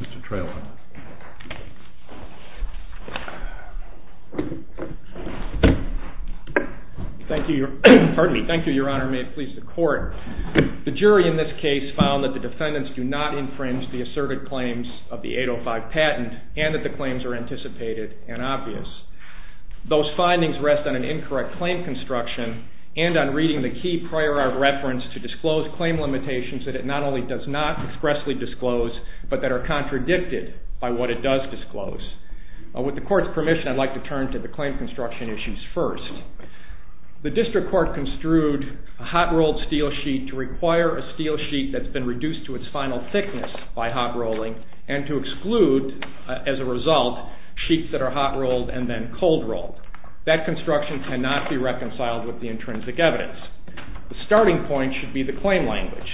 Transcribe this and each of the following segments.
Mr. Treloar. Thank you, Your Honor. May it please the Court. The jury in this case is found that the defendants do not infringe the asserted claims of the 805 patent and that the claims are anticipated and obvious. Those findings rest on an incorrect claim construction and on reading the key prior art reference to disclose claim limitations that it not only does not expressly disclose, but that are contradicted by what it does disclose. With the Court's permission, I'd like to turn to the claim construction issues first. The District Court construed a hot-rolled steel sheet to require a steel sheet that's been reduced to its final thickness by hot rolling and to exclude, as a result, sheets that are hot rolled and then cold rolled. That construction cannot be reconciled with the intrinsic evidence. The starting point should be the claim language.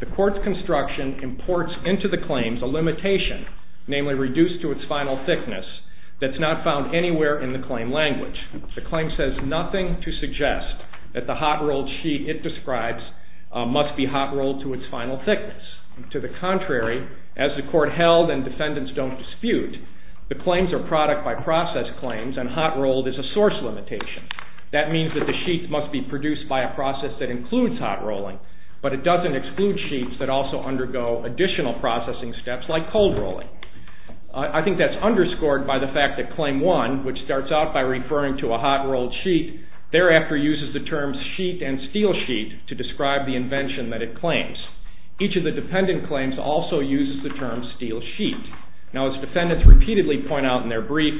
The Court's construction imports into the claims a limitation, namely reduced to its final thickness, that's not found anywhere in the claim language. The claim says nothing to suggest that the hot-rolled sheet it describes must be hot rolled to its final thickness. To the contrary, as the Court held and defendants don't dispute, the claims are product-by-process claims and hot rolled is a source limitation. That means that the sheet must be produced by a process that includes hot rolling, but it doesn't exclude sheets that also undergo additional processing steps like cold rolling. I think that's underscored by the fact that Claim 1, which starts out by referring to a hot-rolled sheet, thereafter uses the terms sheet and steel sheet to describe the invention that it claims. Each of the dependent claims also uses the term steel sheet. Now, as defendants repeatedly point out in their brief,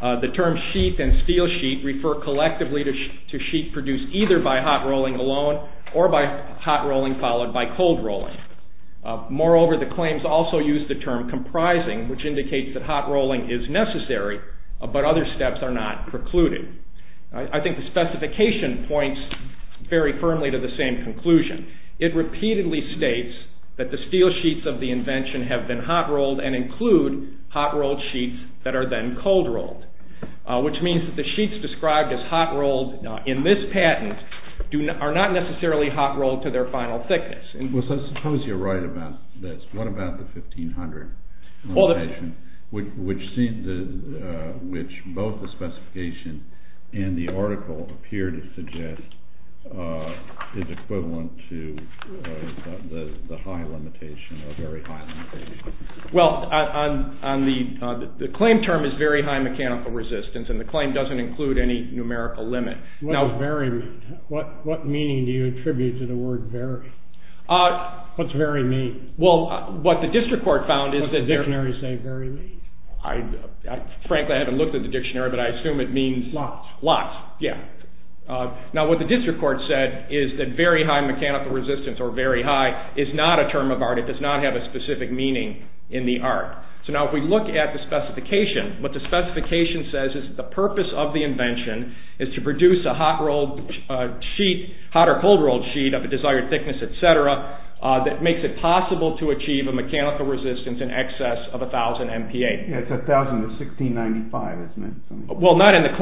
the term sheet and steel sheet refer collectively to sheet produced either by hot rolling alone or by hot rolling followed by cold rolling. Moreover, the claims also use the term comprising, which indicates that hot rolling is necessary, but other steps are not precluded. I think the specification points very firmly to the same conclusion. It repeatedly states that the steel sheets of the invention have been hot rolled and include hot rolled sheets that are then cold rolled, which means that the sheets described as hot rolled in this patent are not necessarily hot rolled to their final thickness. Suppose you're right about this. What about the 1500 limitation, which both the specification and the article appear to suggest is equivalent to the high limitation or very high limitation? Well, the claim term is very high mechanical resistance, and the claim doesn't include any numerical limit. What does very mean? What meaning do you attribute to the word very? What's very mean? Well, what the district court found is that... What does the dictionary say very mean? Frankly, I haven't looked at the dictionary, but I assume it means... Lots. Lots, yeah. Now, what the district court said is that very high mechanical resistance or very high is not a term of art. It does not have a specific meaning in the art. So now if we look at the specification, what the specification says is the purpose of the invention is to produce a hot rolled sheet, hot or cold rolled sheet of a desired thickness, etc., that makes it possible to achieve a mechanical resistance in excess of 1000 MPa. Yeah, it's 1000 to 1695, isn't it? Well, not in the...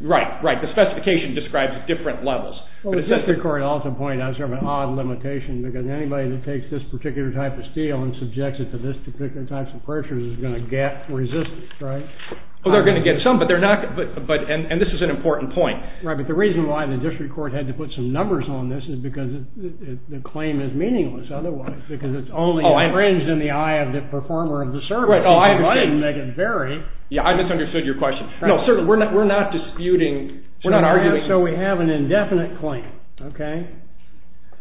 Right, right. The specification describes different levels. Well, the district court also pointed out sort of an odd limitation, because anybody that takes this particular type of steel and subjects it to this particular type of pressure is going to get resistance, right? Well, they're going to get some, but they're not... And this is an important point. Right, but the reason why the district court had to put some numbers on this is because the claim is meaningless otherwise, because it's only infringed in the eye of the performer of the service. Right, oh, I... It doesn't make it very... Yeah, I misunderstood your question. No, sir, we're not disputing... We're not arguing... So we have an indefinite claim, okay?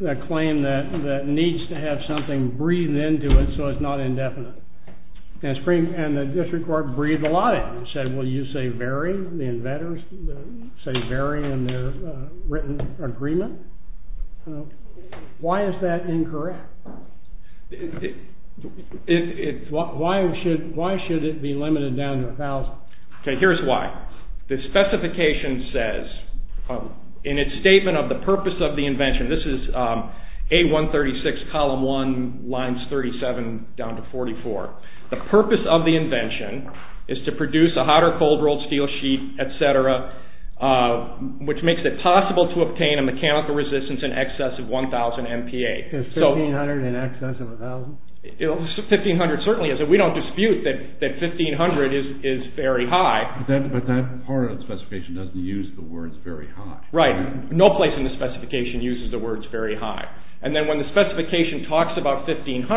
A claim that needs to have something breathed into it so it's not indefinite. And the district court breathed a lot in and said, well, you say very, the inventors say very in their written agreement. Why is that incorrect? It's... Why should it be limited down to 1000? Okay, here's why. The specification says, in its statement of the purpose of the invention, this is A136, column 1, lines 37 down to 44. The purpose of the invention is to produce a hot or cold rolled steel sheet, etc., which makes it possible to obtain a mechanical resistance in excess of 1000 MPa. Is 1500 in excess of 1000? 1500 certainly is. We don't dispute that 1500 is very high. But that part of the specification doesn't use the words very high. Right. No place in the specification uses the words very high. And then when the specification talks about 1500,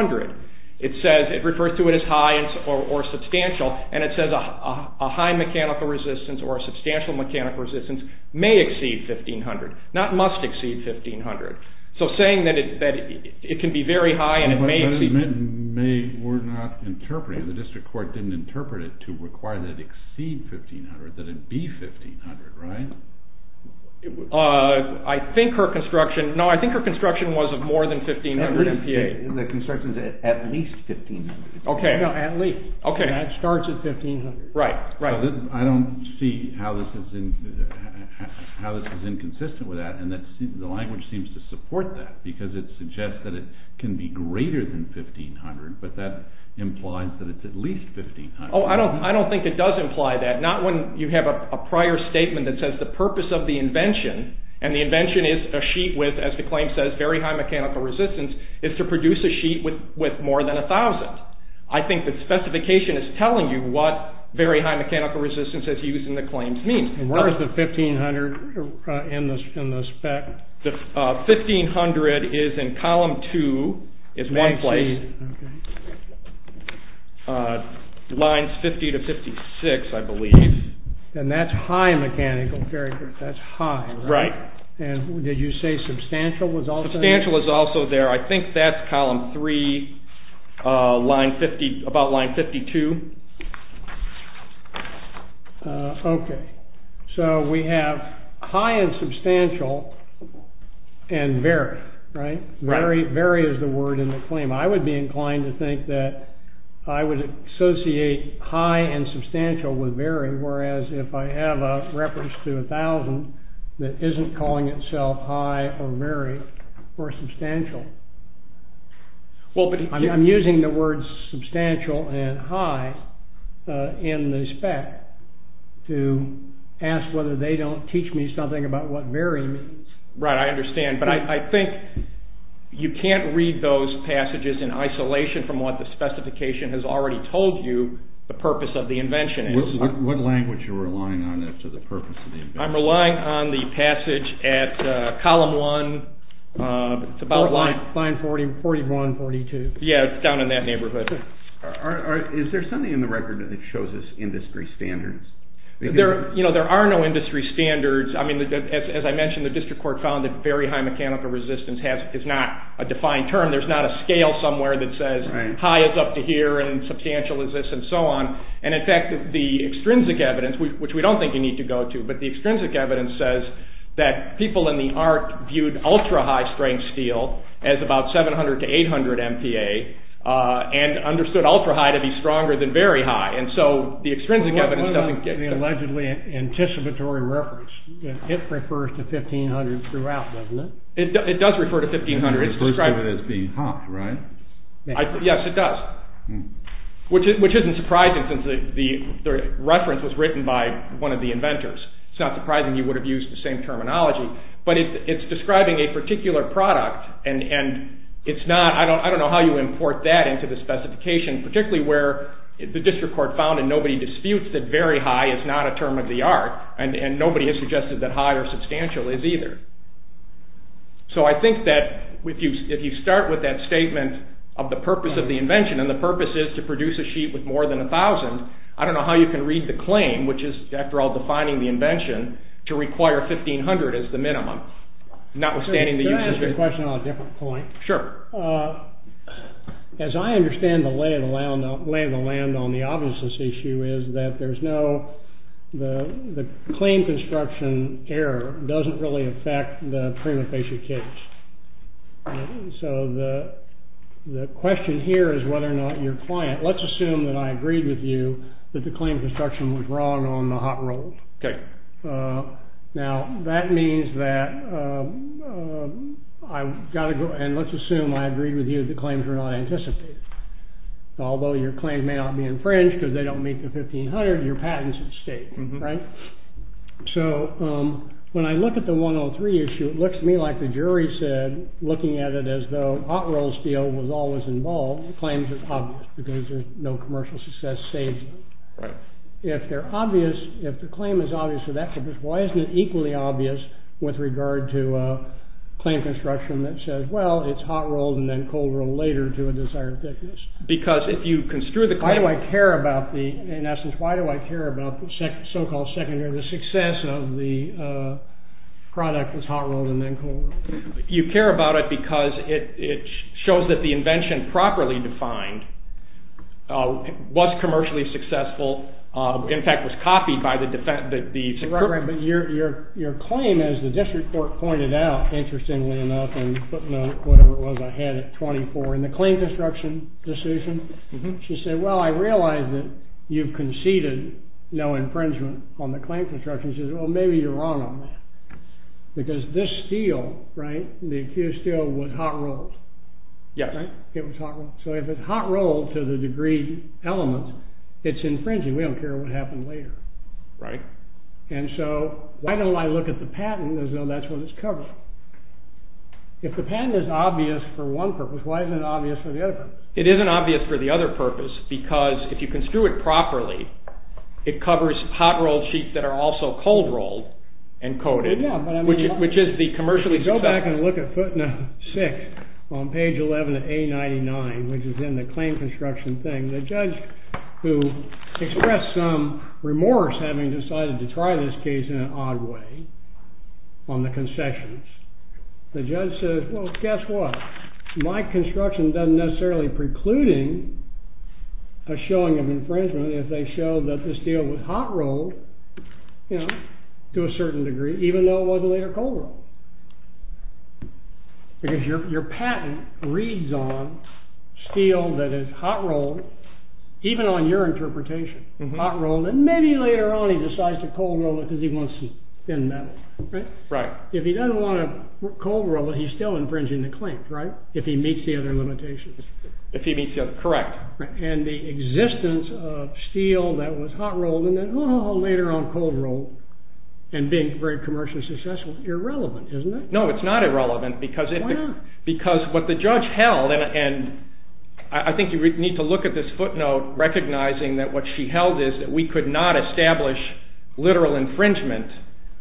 it says, it refers to it as high or substantial, and it says a high mechanical resistance or a substantial mechanical resistance may exceed 1500, not must exceed 1500. So saying that it can be very high and it may... But that is meant, may, we're not interpreting, the district court didn't interpret it to require that it exceed 1500, that it be 1500, right? I think her construction, no, I think her construction was of more than 1500 MPa. The construction is at least 1500. Okay. No, at least. Okay. And that starts at 1500. Right, right. I don't see how this is inconsistent with that, and the language seems to support that, because it suggests that it can be greater than 1500, but that implies that it's at least 1500. Oh, I don't think it does imply that. Not when you have a prior statement that says the purpose of the invention, and the invention is a sheet with, as the claim says, very high mechanical resistance, is to produce a sheet with more than 1000. I think the specification is telling you what very high mechanical resistance is used in the claims means. And where is the 1500 in the spec? The 1500 is in column two, is one place. Okay. Lines 50 to 56, I believe. And that's high mechanical, that's high, right? Right. And did you say substantial was also there? Substantial was also there. I think that's column three, about line 52. Okay. So we have high and substantial and very, right? Very is the word in the claim. I would be inclined to think that I would associate high and substantial with very, whereas if I have a reference to 1000 that isn't calling itself high or very or substantial. I'm using the words substantial and high in the spec to ask whether they don't teach me something about what very means. Right, I understand. But I think you can't read those passages in isolation from what the specification has already told you the purpose of the invention is. What language are you relying on to the purpose of the invention? I'm relying on the passage at column one. It's about line 41, 42. Yeah, down in that neighborhood. Is there something in the record that shows us industry standards? There are no industry standards. I mean, as I mentioned, the district court found that very high mechanical resistance is not a defined term. There's not a scale somewhere that says high is up to here and substantial is this and so on. And, in fact, the extrinsic evidence, which we don't think you need to go to, but the extrinsic evidence says that people in the ARC viewed ultra-high strength steel as about 700 to 800 MPa and understood ultra-high to be stronger than very high. What about the allegedly anticipatory reference? It refers to 1500 throughout, doesn't it? It does refer to 1500. It's listed as being hot, right? Yes, it does, which isn't surprising since the reference was written by one of the inventors. It's not surprising you would have used the same terminology. But it's describing a particular product, and I don't know how you import that into the specification, particularly where the district court found and nobody disputes that very high is not a term of the ARC, and nobody has suggested that high or substantial is either. So I think that if you start with that statement of the purpose of the invention, and the purpose is to produce a sheet with more than 1,000, I don't know how you can read the claim, which is, after all, defining the invention, to require 1500 as the minimum. Can I ask a question on a different point? Sure. As I understand the lay of the land on the obviousness issue is that there's no—the claim construction error doesn't really affect the prima facie case. So the question here is whether or not your client—let's assume that I agreed with you that the claim construction was wrong on the hot roll. Okay. Now, that means that I've got to go—and let's assume I agreed with you that the claims were not anticipated. Although your claim may not be infringed because they don't meet the 1500, your patent's at stake. Right? So when I look at the 103 issue, it looks to me like the jury said, looking at it as though hot roll's deal was always involved, the claims are obvious because there's no commercial success statement. Right. If they're obvious—if the claim is obvious for that purpose, why isn't it equally obvious with regard to a claim construction that says, well, it's hot rolled and then cold rolled later to a desired thickness? Because if you construe the claim— Why do I care about the—in essence, why do I care about the so-called secondary success of the product that's hot rolled and then cold rolled? You care about it because it shows that the invention, properly defined, was commercially successful. In fact, it was copied by the— Right, right. But your claim, as the district court pointed out, interestingly enough, whatever it was, I had it 24. In the claim construction decision, she said, well, I realize that you've conceded no infringement on the claim construction. And she said, well, maybe you're wrong on that. Because this steel, right, the accused steel was hot rolled. Yeah. It was hot rolled. So if it's hot rolled to the degree element, it's infringing. We don't care what happened later. Right. And so why don't I look at the patent as though that's what it's covering? If the patent is obvious for one purpose, why isn't it obvious for the other purpose? It isn't obvious for the other purpose because if you can screw it properly, it covers hot rolled sheets that are also cold rolled and coated. Yeah, but I mean— Which is the commercially successful— If you go back and look at footnote 6 on page 11 of A99, which is in the claim construction thing, the judge who expressed some remorse having decided to try this case in an odd way on the concessions, the judge says, well, guess what? My construction doesn't necessarily preclude a showing of infringement if they show that this steel was hot rolled to a certain degree, even though it was later cold rolled. Because your patent reads on steel that is hot rolled, even on your interpretation, hot rolled, and maybe later on he decides to cold roll it because he wants thin metal. Right. If he doesn't want to cold roll it, he's still infringing the claim, right? If he meets the other limitations. If he meets the other—correct. And the existence of steel that was hot rolled and then later on cold rolled and being very commercially successful is irrelevant, isn't it? No, it's not irrelevant because— Why not? Because what the judge held, and I think you need to look at this footnote recognizing that what she held is that we could not establish literal infringement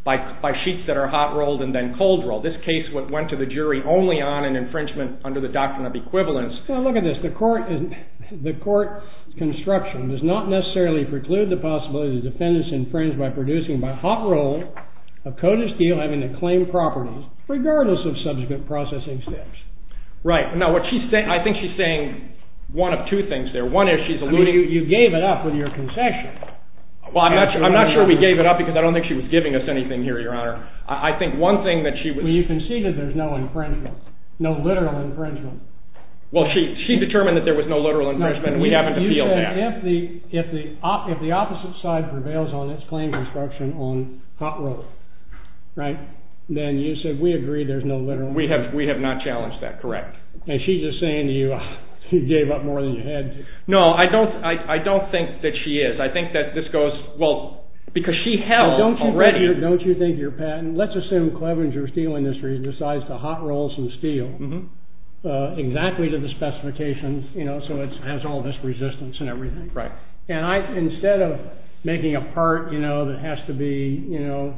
by sheets that are hot rolled and then cold rolled. This case went to the jury only on an infringement under the doctrine of equivalence. Well, look at this. The court construction does not necessarily preclude the possibility of defendants infringed by producing by hot rolling a coated steel having the claimed properties, regardless of subsequent processing steps. Right. Now, I think she's saying one of two things there. One is she's alluding— I mean, you gave it up with your concession. Well, I'm not sure we gave it up because I don't think she was giving us anything here, Your Honor. I think one thing that she— Well, you conceded there's no infringement, no literal infringement. Well, she determined that there was no literal infringement, and we haven't appealed that. You said if the opposite side prevails on its claim construction on hot roll, right, then you said we agree there's no literal— We have not challenged that. Correct. And she's just saying to you, you gave up more than you had to. No, I don't think that she is. I think that this goes—well, because she held already— Don't you think you're patent—let's assume Clevenger Steel Industries decides to hot roll some steel exactly to the specifications, you know, so it has all this resistance and everything. Right. And I, instead of making a part, you know, that has to be, you know,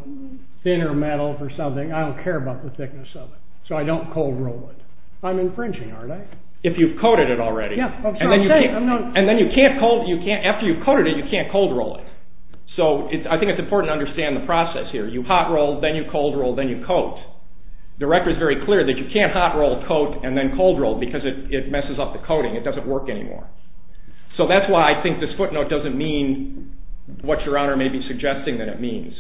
thinner metal for something, I don't care about the thickness of it, so I don't cold roll it. I'm infringing, aren't I? If you've coated it already. Yeah. And then you can't—and then you can't—after you've coated it, you can't cold roll it. So I think it's important to understand the process here. You hot roll, then you cold roll, then you coat. The record is very clear that you can't hot roll, coat, and then cold roll because it messes up the coating. It doesn't work anymore. So that's why I think this footnote doesn't mean what Your Honor may be suggesting that it means.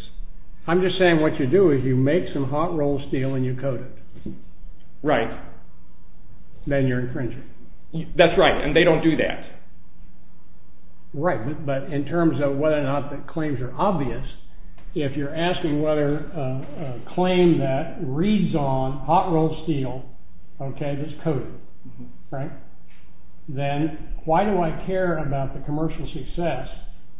I'm just saying what you do is you make some hot roll steel and you coat it. Right. Then you're infringing. That's right, and they don't do that. Right, but in terms of whether or not the claims are obvious, if you're asking whether a claim that reads on hot roll steel, okay, that's coated, right, then why do I care about the commercial success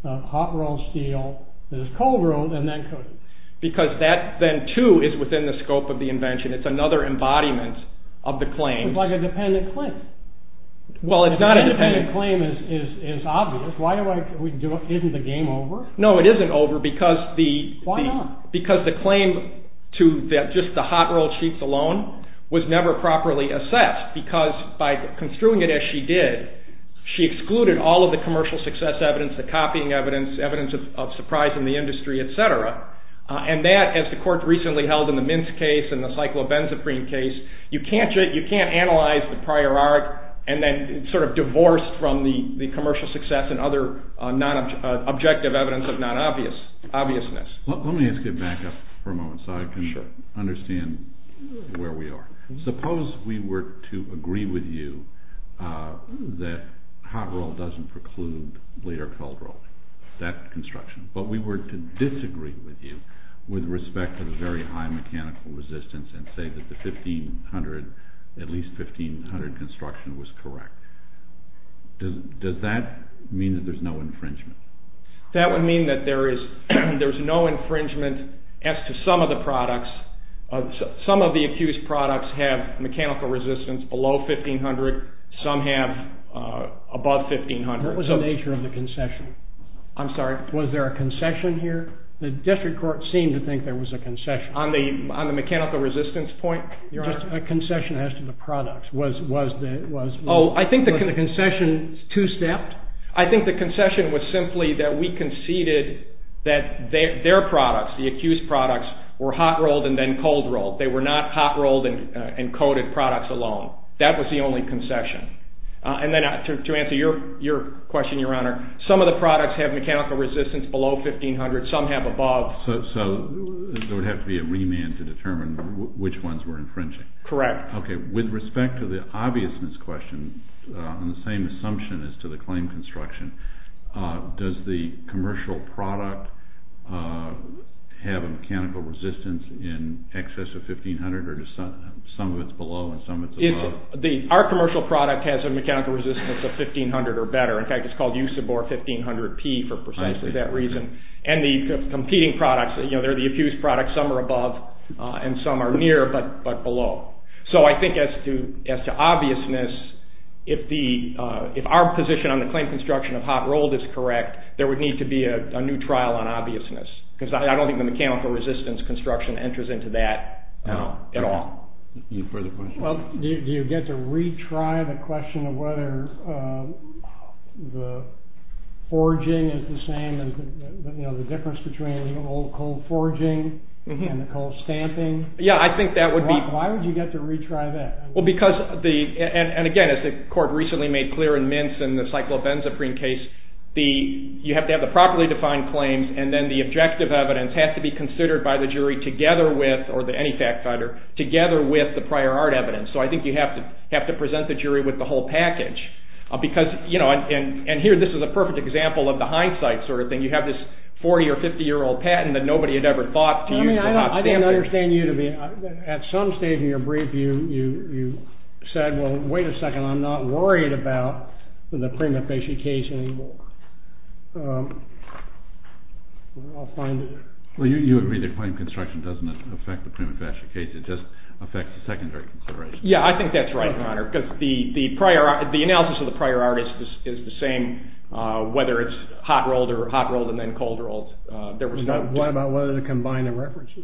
of hot roll steel that is cold rolled and then coated? Because that then, too, is within the scope of the invention. It's another embodiment of the claim. It's like a dependent claim. Well, it's not a dependent— A dependent claim is obvious. Why do I—isn't the game over? No, it isn't over because the— Why not? Because the claim to just the hot roll sheets alone was never properly assessed because by construing it as she did, she excluded all of the commercial success evidence, the copying evidence, evidence of surprise in the industry, etc. And that, as the court recently held in the Mince case and the Cyclobenzaprine case, you can't analyze the prior art and then sort of divorce from the commercial success and other objective evidence of non-obviousness. Let me ask you back up for a moment so I can understand where we are. Suppose we were to agree with you that hot roll doesn't preclude later cold rolling, that construction. But we were to disagree with you with respect to the very high mechanical resistance and say that the 1500—at least 1500 construction was correct. Does that mean that there's no infringement? That would mean that there is—there's no infringement as to some of the products. Some of the accused products have mechanical resistance below 1500. Some have above 1500. What was the nature of the concession? I'm sorry. Was there a concession here? The district court seemed to think there was a concession. On the mechanical resistance point? Just a concession as to the products. Was the— Oh, I think the concession is two-stepped. I think the concession was simply that we conceded that their products, the accused products, were hot rolled and then cold rolled. They were not hot rolled and coated products alone. That was the only concession. And then to answer your question, Your Honor, some of the products have mechanical resistance below 1500. Some have above. So there would have to be a remand to determine which ones were infringing. Correct. Okay. With respect to the obviousness question and the same assumption as to the claim construction, does the commercial product have a mechanical resistance in excess of 1500 or some of it's below and some of it's above? Our commercial product has a mechanical resistance of 1500 or better. In fact, it's called Usabor 1500P for precisely that reason. And the competing products, you know, they're the accused products. Some are above and some are near but below. So I think as to obviousness, if our position on the claim construction of hot rolled is correct, there would need to be a new trial on obviousness because I don't think the mechanical resistance construction enters into that at all. Any further questions? Well, do you get to retry the question of whether the forging is the same as, you know, the difference between the old cold forging and the cold stamping? Yeah, I think that would be. Why would you get to retry that? Well, because the, and again, as the court recently made clear in Mintz and the cyclopenzaprine case, you have to have the properly defined claims and then the objective evidence has to be considered by the jury together with, or any fact finder, together with the prior art evidence. So I think you have to present the jury with the whole package because, you know, and here this is a perfect example of the hindsight sort of thing. You have this 40 or 50 year old patent that nobody had ever thought to use for hot stamping. I don't understand you to be, at some stage in your brief you said, well, wait a second, I'm not worried about the prima facie case anymore. I'll find it. Well, you agree the claim construction doesn't affect the prima facie case, it just affects the secondary consideration. Yeah, I think that's right, Your Honor, because the analysis of the prior art is the same, whether it's hot rolled or hot rolled and then cold rolled. What about whether to combine the references?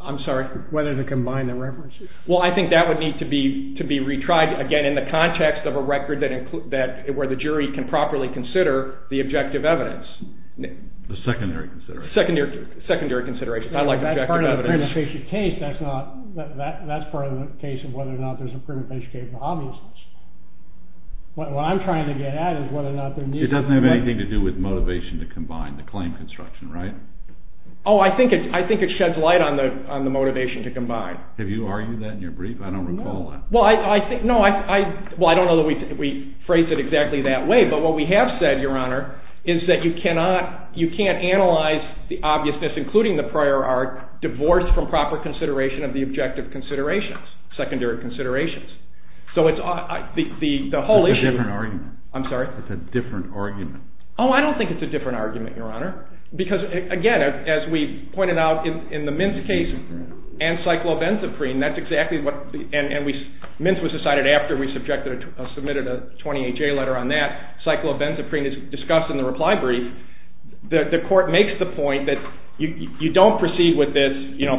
I'm sorry? Whether to combine the references. Well, I think that would need to be retried, again, in the context of a record where the jury can properly consider the objective evidence. The secondary consideration. Secondary consideration, not like objective evidence. That's part of the prima facie case. That's part of the case of whether or not there's a prima facie case of obviousness. What I'm trying to get at is whether or not there needs to be. It doesn't have anything to do with motivation to combine the claim construction, right? Oh, I think it sheds light on the motivation to combine. Have you argued that in your brief? I don't recall that. Well, I don't know that we phrase it exactly that way, but what we have said, Your Honor, is that you can't analyze the obviousness, including the prior art, divorced from proper consideration of the objective considerations, secondary considerations. So the whole issue. It's a different argument. I'm sorry? It's a different argument. Oh, I don't think it's a different argument, Your Honor, because, again, as we pointed out in the Mintz case and Cyclovenzaprine, and Mintz was decided after we submitted a 20HA letter on that. Cyclovenzaprine is discussed in the reply brief. The court makes the point that you don't proceed with this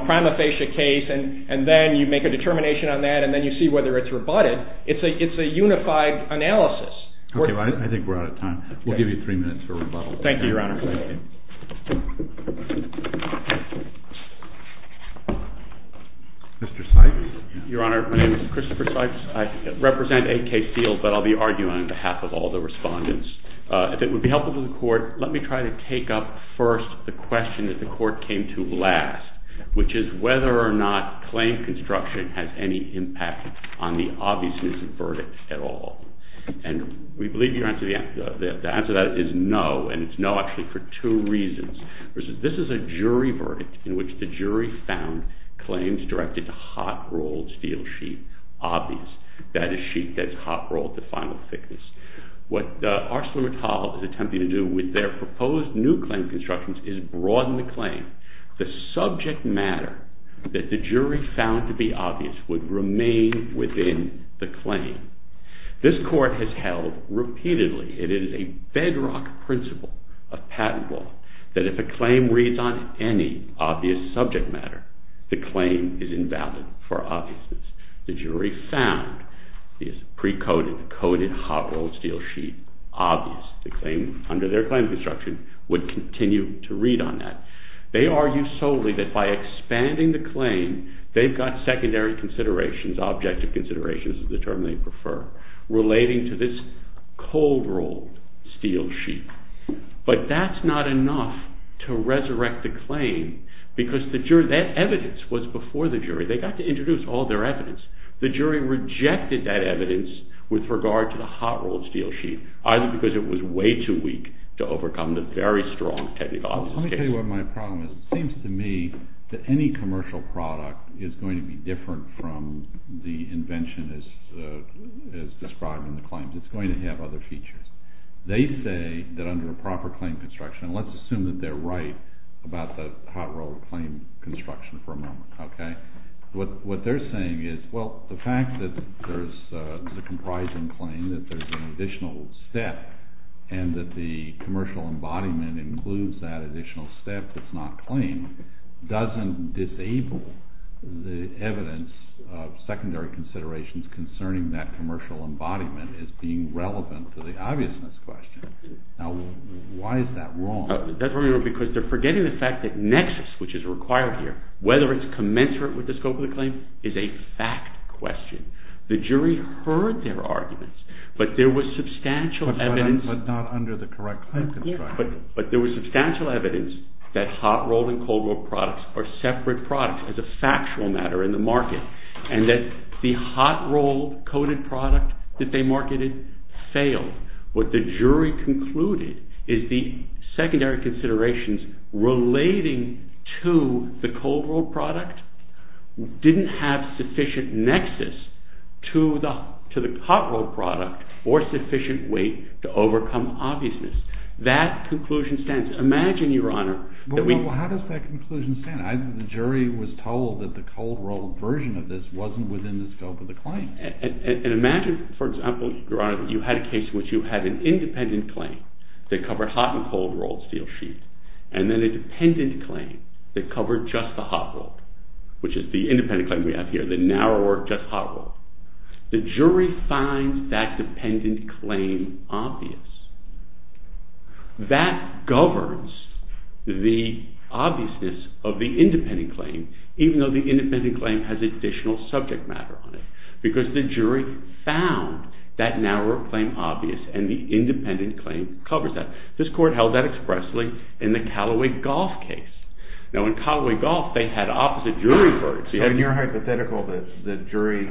prima facie case and then you make a determination on that and then you see whether it's rebutted. It's a unified analysis. Okay, I think we're out of time. We'll give you three minutes for rebuttal. Thank you, Your Honor. Thank you. Mr. Sykes? Your Honor, my name is Christopher Sykes. I represent AK Field, but I'll be arguing on behalf of all the respondents. If it would be helpful to the court, let me try to take up first the question that the court came to last, which is whether or not claim construction has any impact on the obviousness of verdict at all. And we believe the answer to that is no, and it's no actually for two reasons. This is a jury verdict in which the jury found claims directed to hot-rolled steel sheet obvious. That is sheet that's hot-rolled to final thickness. What ArcelorMittal is attempting to do with their proposed new claim constructions is broaden the claim. The subject matter that the jury found to be obvious would remain within the claim. This court has held repeatedly it is a bedrock principle of patent law that if a claim reads on any obvious subject matter, the claim is invalid for obviousness. The jury found the pre-coded, coded hot-rolled steel sheet obvious. The claim under their claim construction would continue to read on that. They argue solely that by expanding the claim, they've got secondary considerations, objective considerations is the term they prefer, relating to this cold-rolled steel sheet. But that's not enough to resurrect the claim because that evidence was before the jury. They got to introduce all their evidence. The jury rejected that evidence with regard to the hot-rolled steel sheet either because it was way too weak to overcome the very strong technical obvious. Let me tell you what my problem is. It seems to me that any commercial product is going to be different from the invention as described in the claims. It's going to have other features. They say that under a proper claim construction, and let's assume that they're right about the hot-rolled claim construction for a moment, what they're saying is, well, the fact that there's a comprising claim, that there's an additional step, and that the commercial embodiment includes that additional step that's not claimed doesn't disable the evidence of secondary considerations concerning that commercial embodiment as being relevant to the obviousness question. Now, why is that wrong? That's wrong because they're forgetting the fact that nexus, which is required here, whether it's commensurate with the scope of the claim is a fact question. The jury heard their arguments, but there was substantial evidence. But not under the correct claim construction. But there was substantial evidence that hot-rolled and cold-rolled products are separate products as a factual matter in the market, and that the hot-rolled coded product that they marketed failed. What the jury concluded is the secondary considerations relating to the cold-rolled product didn't have sufficient nexus to the hot-rolled product or sufficient weight to overcome obviousness. That conclusion stands. Imagine, Your Honor, that we... Well, how does that conclusion stand? The jury was told that the cold-rolled version of this wasn't within the scope of the claim. And imagine, for example, Your Honor, that you had a case in which you had an independent claim that covered hot and cold-rolled steel sheets, and then a dependent claim that covered just the hot-rolled, which is the independent claim we have here, the narrower, just hot-rolled. The jury finds that dependent claim obvious. That governs the obviousness of the independent claim, even though the independent claim has additional subject matter on it, because the jury found that narrower claim obvious and the independent claim covers that. This court held that expressly in the Callaway-Golf case. Now, in Callaway-Golf, they had opposite jury verdicts. So in your hypothetical, the jury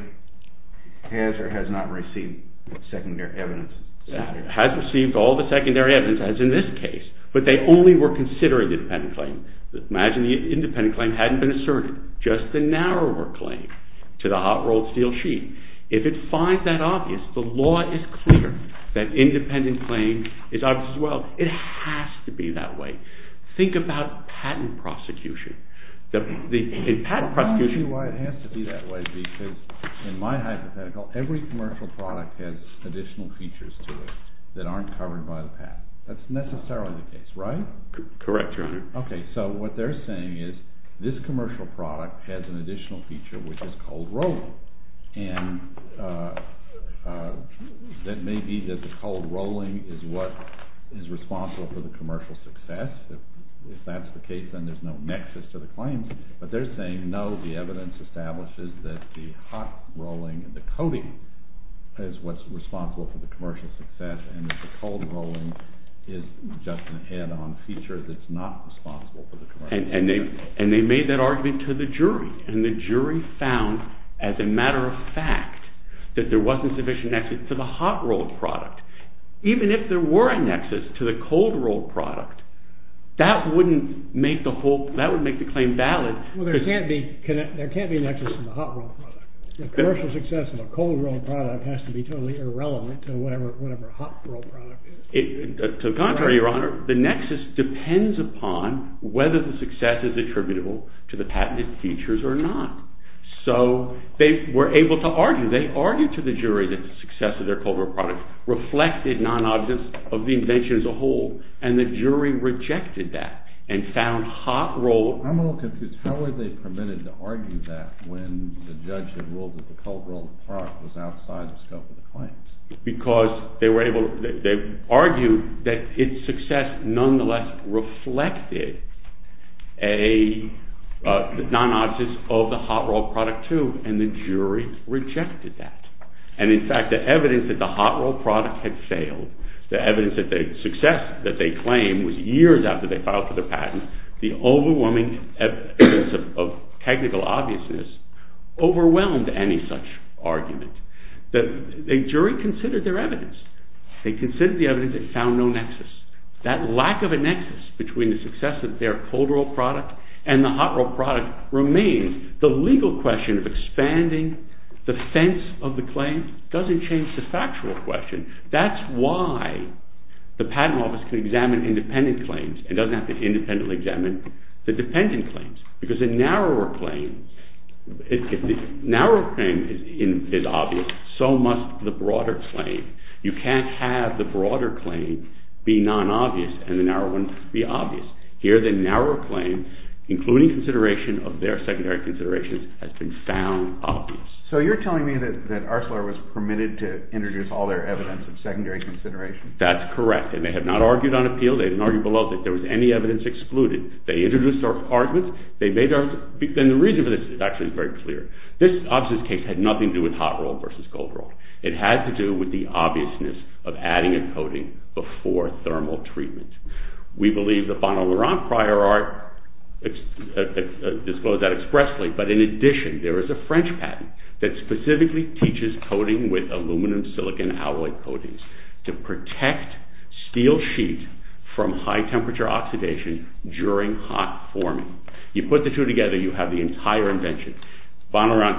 has or has not received secondary evidence in this matter? Has received all the secondary evidence, as in this case, but they only were considering the dependent claim. Imagine the independent claim hadn't been asserted, just the narrower claim to the hot-rolled steel sheet. If it finds that obvious, the law is clear that independent claim is obvious as well. It has to be that way. Think about patent prosecution. I'll tell you why it has to be that way, because in my hypothetical, every commercial product has additional features to it that aren't covered by the patent. That's necessarily the case, right? Correct, Your Honor. Okay, so what they're saying is this commercial product has an additional feature, which is cold-rolled, and that may be that the cold-rolling is what is responsible for the commercial success. If that's the case, then there's no nexus to the claims. But they're saying, no, the evidence establishes that the hot-rolling and the coating is what's responsible for the commercial success, and that the cold-rolling is just an add-on feature that's not responsible for the commercial success. And they made that argument to the jury, and the jury found, as a matter of fact, that there wasn't sufficient nexus to the hot-rolled product. Even if there were a nexus to the cold-rolled product, that wouldn't make the claim valid. Well, there can't be a nexus to the hot-rolled product. The commercial success of a cold-rolled product has to be totally irrelevant to whatever a hot-rolled product is. To the contrary, Your Honor, the nexus depends upon whether the success is attributable to the patented features or not. So they were able to argue. They argued to the jury that the success of their cold-rolled product reflected non-obvious of the invention as a whole, and the jury rejected that and found hot-rolled... I'm a little confused. How were they permitted to argue that when the judge had ruled that the cold-rolled product Because they were able... They argued that its success, nonetheless, reflected a non-obvious of the hot-rolled product, too, and the jury rejected that. And, in fact, the evidence that the hot-rolled product had failed, the evidence that the success that they claimed was years after they filed for the patent, the overwhelming evidence of technical obviousness overwhelmed any such argument. The jury considered their evidence. They considered the evidence and found no nexus. That lack of a nexus between the success of their cold-rolled product and the hot-rolled product remains. The legal question of expanding the fence of the claim doesn't change the factual question. That's why the patent office can examine independent claims and doesn't have to independently examine the dependent claims, because the narrower claims... The narrower claim is obvious. So must the broader claim. You can't have the broader claim be non-obvious and the narrow one be obvious. Here, the narrower claim, including consideration of their secondary considerations, has been found obvious. So you're telling me that Arcelor was permitted to introduce all their evidence of secondary consideration? That's correct. They may have not argued on appeal. They didn't argue below that there was any evidence excluded. They introduced their arguments. They made their... And the reason for this, actually, is very clear. This obviousness case had nothing to do with hot-rolled versus cold-rolled. It had to do with the obviousness of adding a coating before thermal treatment. We believe the Van Laurent prior art disclosed that expressly, but in addition, there is a French patent that specifically teaches coating with aluminum-silicon alloy coatings to protect steel sheet from high-temperature oxidation during hot forming. You put the two together, you have the entire invention. Van Laurent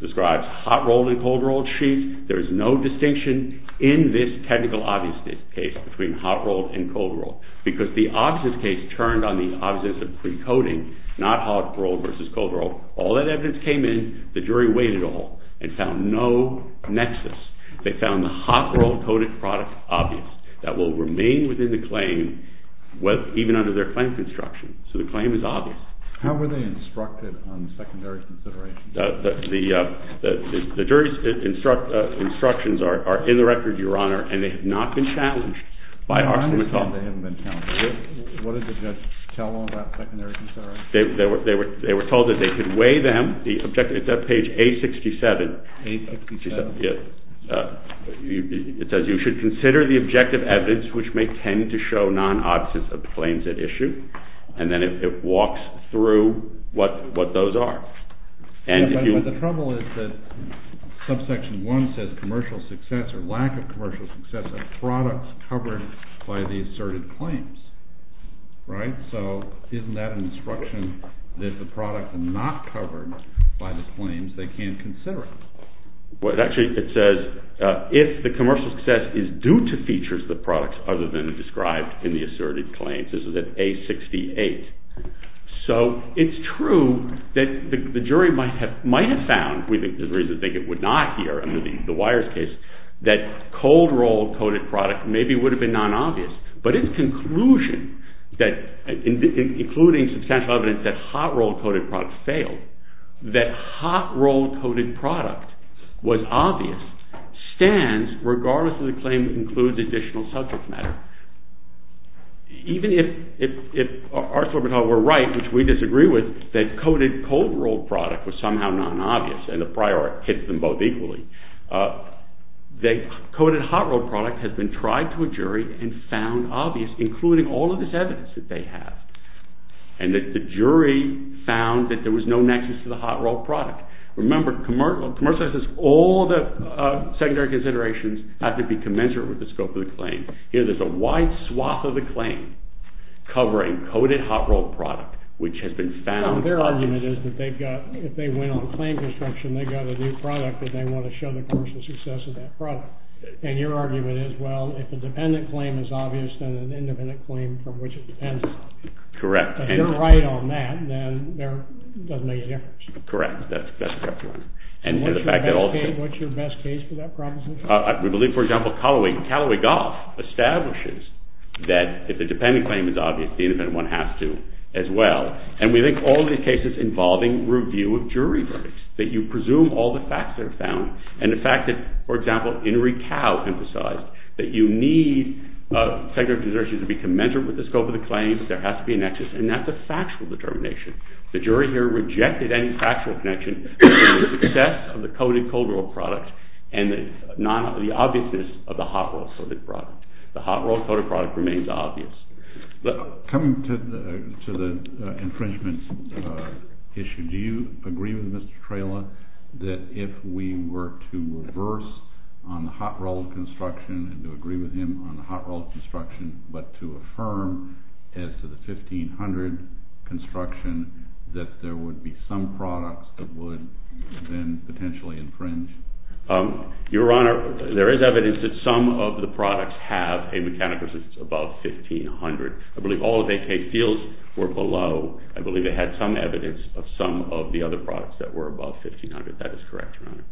describes hot-rolled and cold-rolled sheets. There is no distinction in this technical obviousness case between hot-rolled and cold-rolled because the obviousness case turned on the obviousness of pre-coating, not hot-rolled versus cold-rolled. All that evidence came in. The jury weighed it all and found no nexus. They found the hot-rolled coated product obvious that will remain within the claim even under their claim construction. So the claim is obvious. How were they instructed on the secondary consideration? The jury's instructions are in the record, Your Honor, and they have not been challenged by Oxford. I understand they haven't been challenged. What did the judge tell them about secondary consideration? They were told that they could weigh them. It's on page A67. A67. It says, You should consider the objective evidence which may tend to show non-obvious claims at issue. And then it walks through what those are. But the trouble is that subsection 1 says commercial success or lack of commercial success of products covered by the asserted claims, right? So isn't that an instruction that if the product is not covered by the claims, they can't consider it? Well, actually, it says, If the commercial success is due to features of the product other than described in the asserted claims. This is at A68. So it's true that the jury might have found, there's a reason to think it would not here, under the wires case, that cold-rolled coated product maybe would have been non-obvious. But its conclusion, including substantial evidence that hot-rolled coated product failed, that hot-rolled coated product was obvious, stands regardless of the claim that includes additional subject matter. Even if Arthur and I were right, which we disagree with, that coated cold-rolled product was somehow non-obvious, and the prior hit them both equally, the coated hot-rolled product has been tried to a jury and found obvious, including all of this evidence that they have. And that the jury found that there was no nexus to the hot-rolled product. Remember, commercial success, all the secondary considerations have to be commensurate with the scope of the claim. Here there's a wide swath of the claim covering coated hot-rolled product, which has been found... Their argument is that they've got, if they went on claim construction, they've got a new product that they want to show the commercial success of that product. And your argument is, well, if a dependent claim is obvious, then an independent claim from which it depends. Correct. If you're right on that, then it doesn't make a difference. Correct. That's exactly right. And the fact that all... What's your best case for that proposition? We believe, for example, Callaway-Goff establishes that if a dependent claim is obvious, the independent one has to as well. And we think all of these cases involving review of jury verdicts, that you presume all the facts that are found. And the fact that, for example, Enrique Cao emphasized that you need secondary considerations to be commensurate with the scope of the claim. There has to be a nexus. And that's a factual determination. The jury here rejected any factual connection to the success of the coated cold-rolled product and the obviousness of the hot-rolled coated product. The hot-rolled coated product remains obvious. Coming to the infringement issue, do you agree with Mr. Trela that if we were to reverse on the hot-rolled construction and to agree with him on the hot-rolled construction but to affirm as to the 1500 construction that there would be some products that would then potentially infringe? Your Honor, there is evidence that some of the products have a mechanical resistance above 1500. I believe all of AK Steel's were below. I believe they had some evidence of some of the other products that were above 1500. That is correct, Your Honor.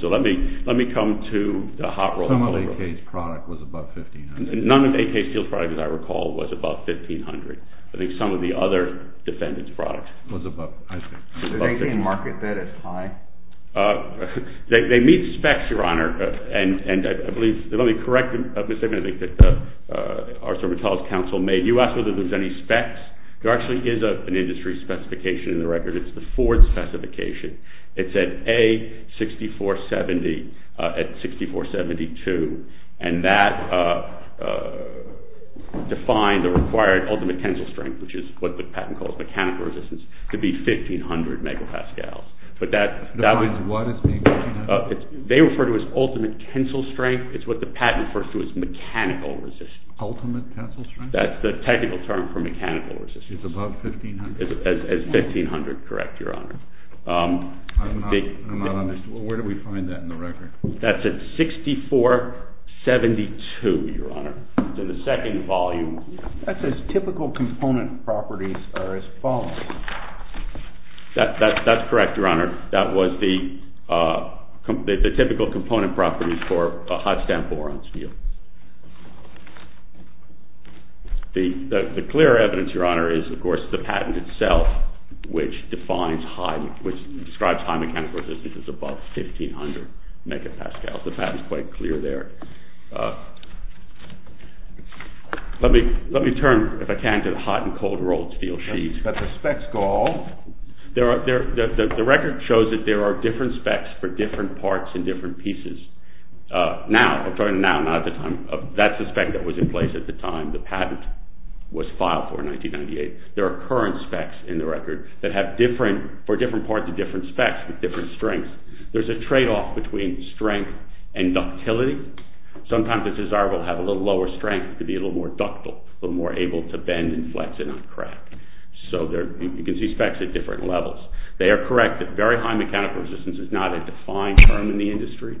So let me come to the hot-rolled. Some of AK Steel's product was above 1500. None of AK Steel's product, as I recall, was above 1500. I think some of the other defendant's product was above, I think. So they didn't market that as high? They meet specs, Your Honor. And I believe, let me correct a mistake that I think that the Arts and Humanities Council made. You asked whether there's any specs. There actually is an industry specification in the record. It's the Ford specification. It said A, 6470 at 6472. And that defined the required ultimate tensile strength, which is what the patent calls mechanical resistance, to be 1500 megapascals. But that was... What is 1500? They refer to it as ultimate tensile strength. It's what the patent refers to as mechanical resistance. Ultimate tensile strength? That's the technical term for mechanical resistance. It's above 1500? It's 1500, correct, Your Honor. I'm not honest. Where do we find that in the record? That's at 6472, Your Honor. So the second volume... That says typical component properties are as follows. That's correct, Your Honor. That was the typical component properties for a hot-stand bore on steel. The clearer evidence, Your Honor, is, of course, the patent itself, which defines high... which describes high mechanical resistance as above 1500 megapascals. The patent's quite clear there. Let me turn, if I can, to the hot and cold rolled steel sheets. But the specs go on. The record shows that there are different specs for different parts and different pieces. Now... That's the spec that was in place at the time the patent was filed for in 1998. There are current specs in the record that have different... for different parts and different specs with different strengths. There's a trade-off between strength and ductility. Sometimes it's desirable to have a little lower strength to be a little more ductile, a little more able to bend and flex and not crack. So you can see specs at different levels. They are correct that very high mechanical resistance is not a defined term in the industry.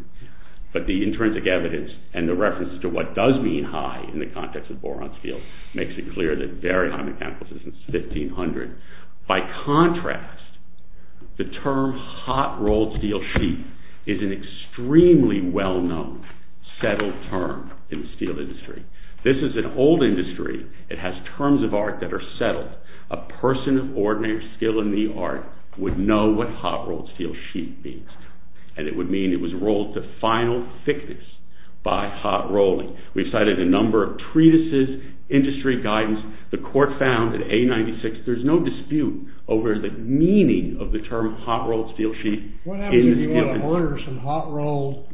But the intrinsic evidence and the reference to what does mean high in the context of bore-on-steel makes it clear that very high mechanical resistance is 1500. By contrast, the term hot rolled steel sheet is an extremely well-known, settled term in the steel industry. This is an old industry. It has terms of art that are settled. A person of ordinary skill in the art would know what hot rolled steel sheet means. And it would mean it was rolled to final thickness by hot rolling. We've cited a number of treatises, industry guidance. The court found in A96, there's no dispute over the meaning of the term hot rolled steel sheet in the steel industry. What happens if you want to order some hot rolled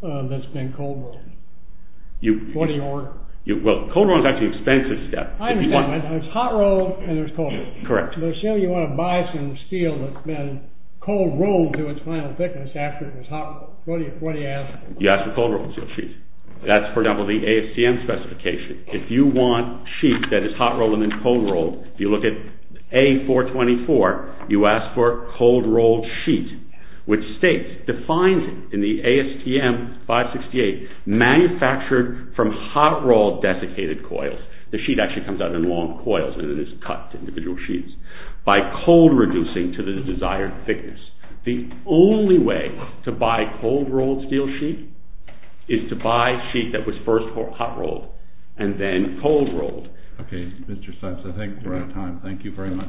that's been cold rolled? What do you order? Well, cold rolled is actually an expensive step. I understand. It's hot rolled and there's cold rolled. Correct. Let's say you want to buy some steel that's been cold rolled to its final thickness after it was hot rolled. What do you ask for? You ask for cold rolled steel sheet. That's, for example, the AFCM specification. If you want sheet that is hot rolled and then cold rolled, you look at A424, you ask for cold rolled sheet, which states, defined in the ASTM 568, manufactured from hot rolled desiccated coils. The sheet actually comes out in long coils and it is cut to individual sheets by cold reducing to the desired thickness. The only way to buy cold rolled steel sheet is to buy sheet that was first hot rolled and then cold rolled. Okay, Mr. Seitz, I think we're out of time. Thank you very much.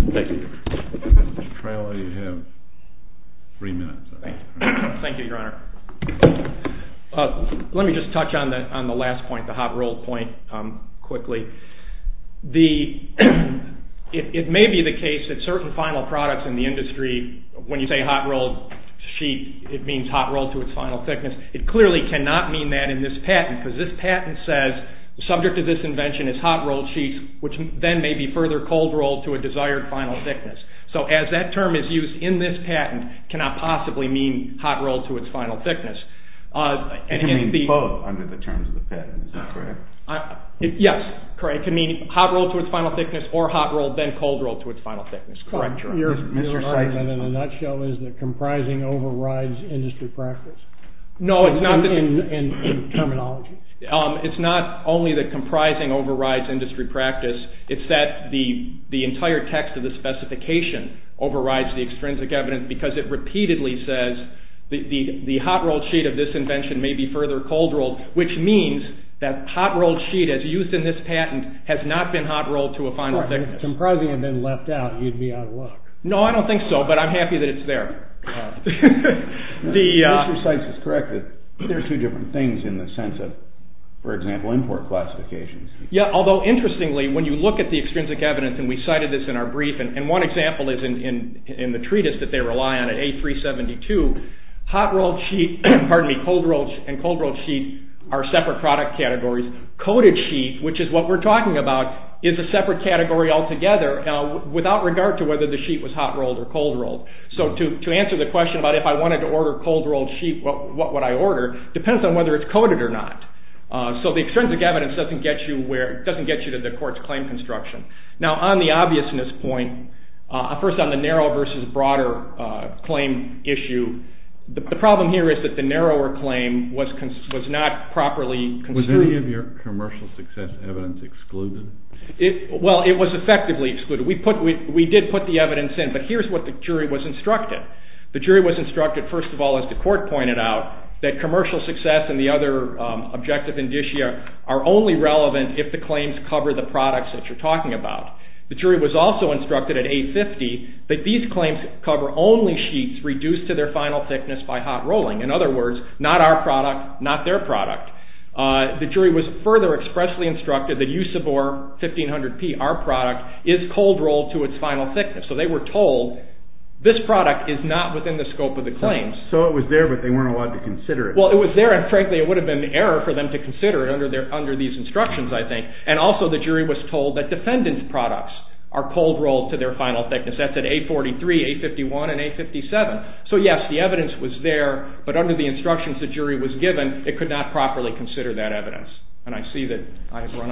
Mr. Traylor, you have three minutes. Thank you, Your Honor. Let me just touch on the last point, the hot rolled point, quickly. It may be the case that certain final products in the industry, when you say hot rolled sheet, it means hot rolled to its final thickness. It clearly cannot mean that in this patent because this patent says the subject of this invention is hot rolled sheets, which then may be further cold rolled to a desired final thickness. So as that term is used in this patent, it cannot possibly mean hot rolled to its final thickness. It can mean both under the terms of the patent. Is that correct? Yes, correct. It can mean hot rolled to its final thickness or hot rolled then cold rolled to its final thickness. Correct, Your Honor. Your argument in a nutshell is that comprising overrides industry practice? No, it's not. In terminology. It's not only that comprising overrides industry practice. It's that the entire text of the specification overrides the extrinsic evidence because it repeatedly says the hot rolled sheet of this invention may be further cold rolled, which means that hot rolled sheet, as used in this patent, has not been hot rolled to a final thickness. If comprising had been left out, you'd be out of luck. No, I don't think so, but I'm happy that it's there. Mr. Sykes is correct that there are two different things in the sense of, for example, import classifications. Yeah, although interestingly, when you look at the extrinsic evidence, and we cited this in our brief, and one example is in the treatise that they rely on at A372, cold rolled and cold rolled sheet are separate product categories. Coated sheet, which is what we're talking about, is a separate category altogether without regard to whether the sheet was hot rolled or cold rolled. So to answer the question about if I wanted to order cold rolled sheet, what would I order, depends on whether it's coated or not. So the extrinsic evidence doesn't get you to the court's claim construction. Now, on the obviousness point, first on the narrow versus broader claim issue, the problem here is that the narrower claim was not properly construed. Was any of your commercial success evidence excluded? Well, it was effectively excluded. We did put the evidence in, but here's what the jury was instructed. The jury was instructed, first of all, as the court pointed out, that commercial success and the other objective indicia are only relevant if the claims cover the products that you're talking about. The jury was also instructed at A50 that these claims cover only sheets reduced to their final thickness by hot rolling. In other words, not our product, not their product. The jury was further expressly instructed that USABOR 1500P, our product, is cold rolled to its final thickness. So they were told this product is not within the scope of the claims. So it was there, but they weren't allowed to consider it. Well, it was there, and frankly, it would have been an error for them to consider it under these instructions, I think. And also, the jury was told that defendant's products are cold rolled to their final thickness. That's at A43, A51, and A57. So, yes, the evidence was there, but under the instructions the jury was given, it could not properly consider that evidence. Thank you, Your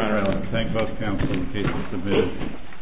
Honor. Thank you, Your Honor.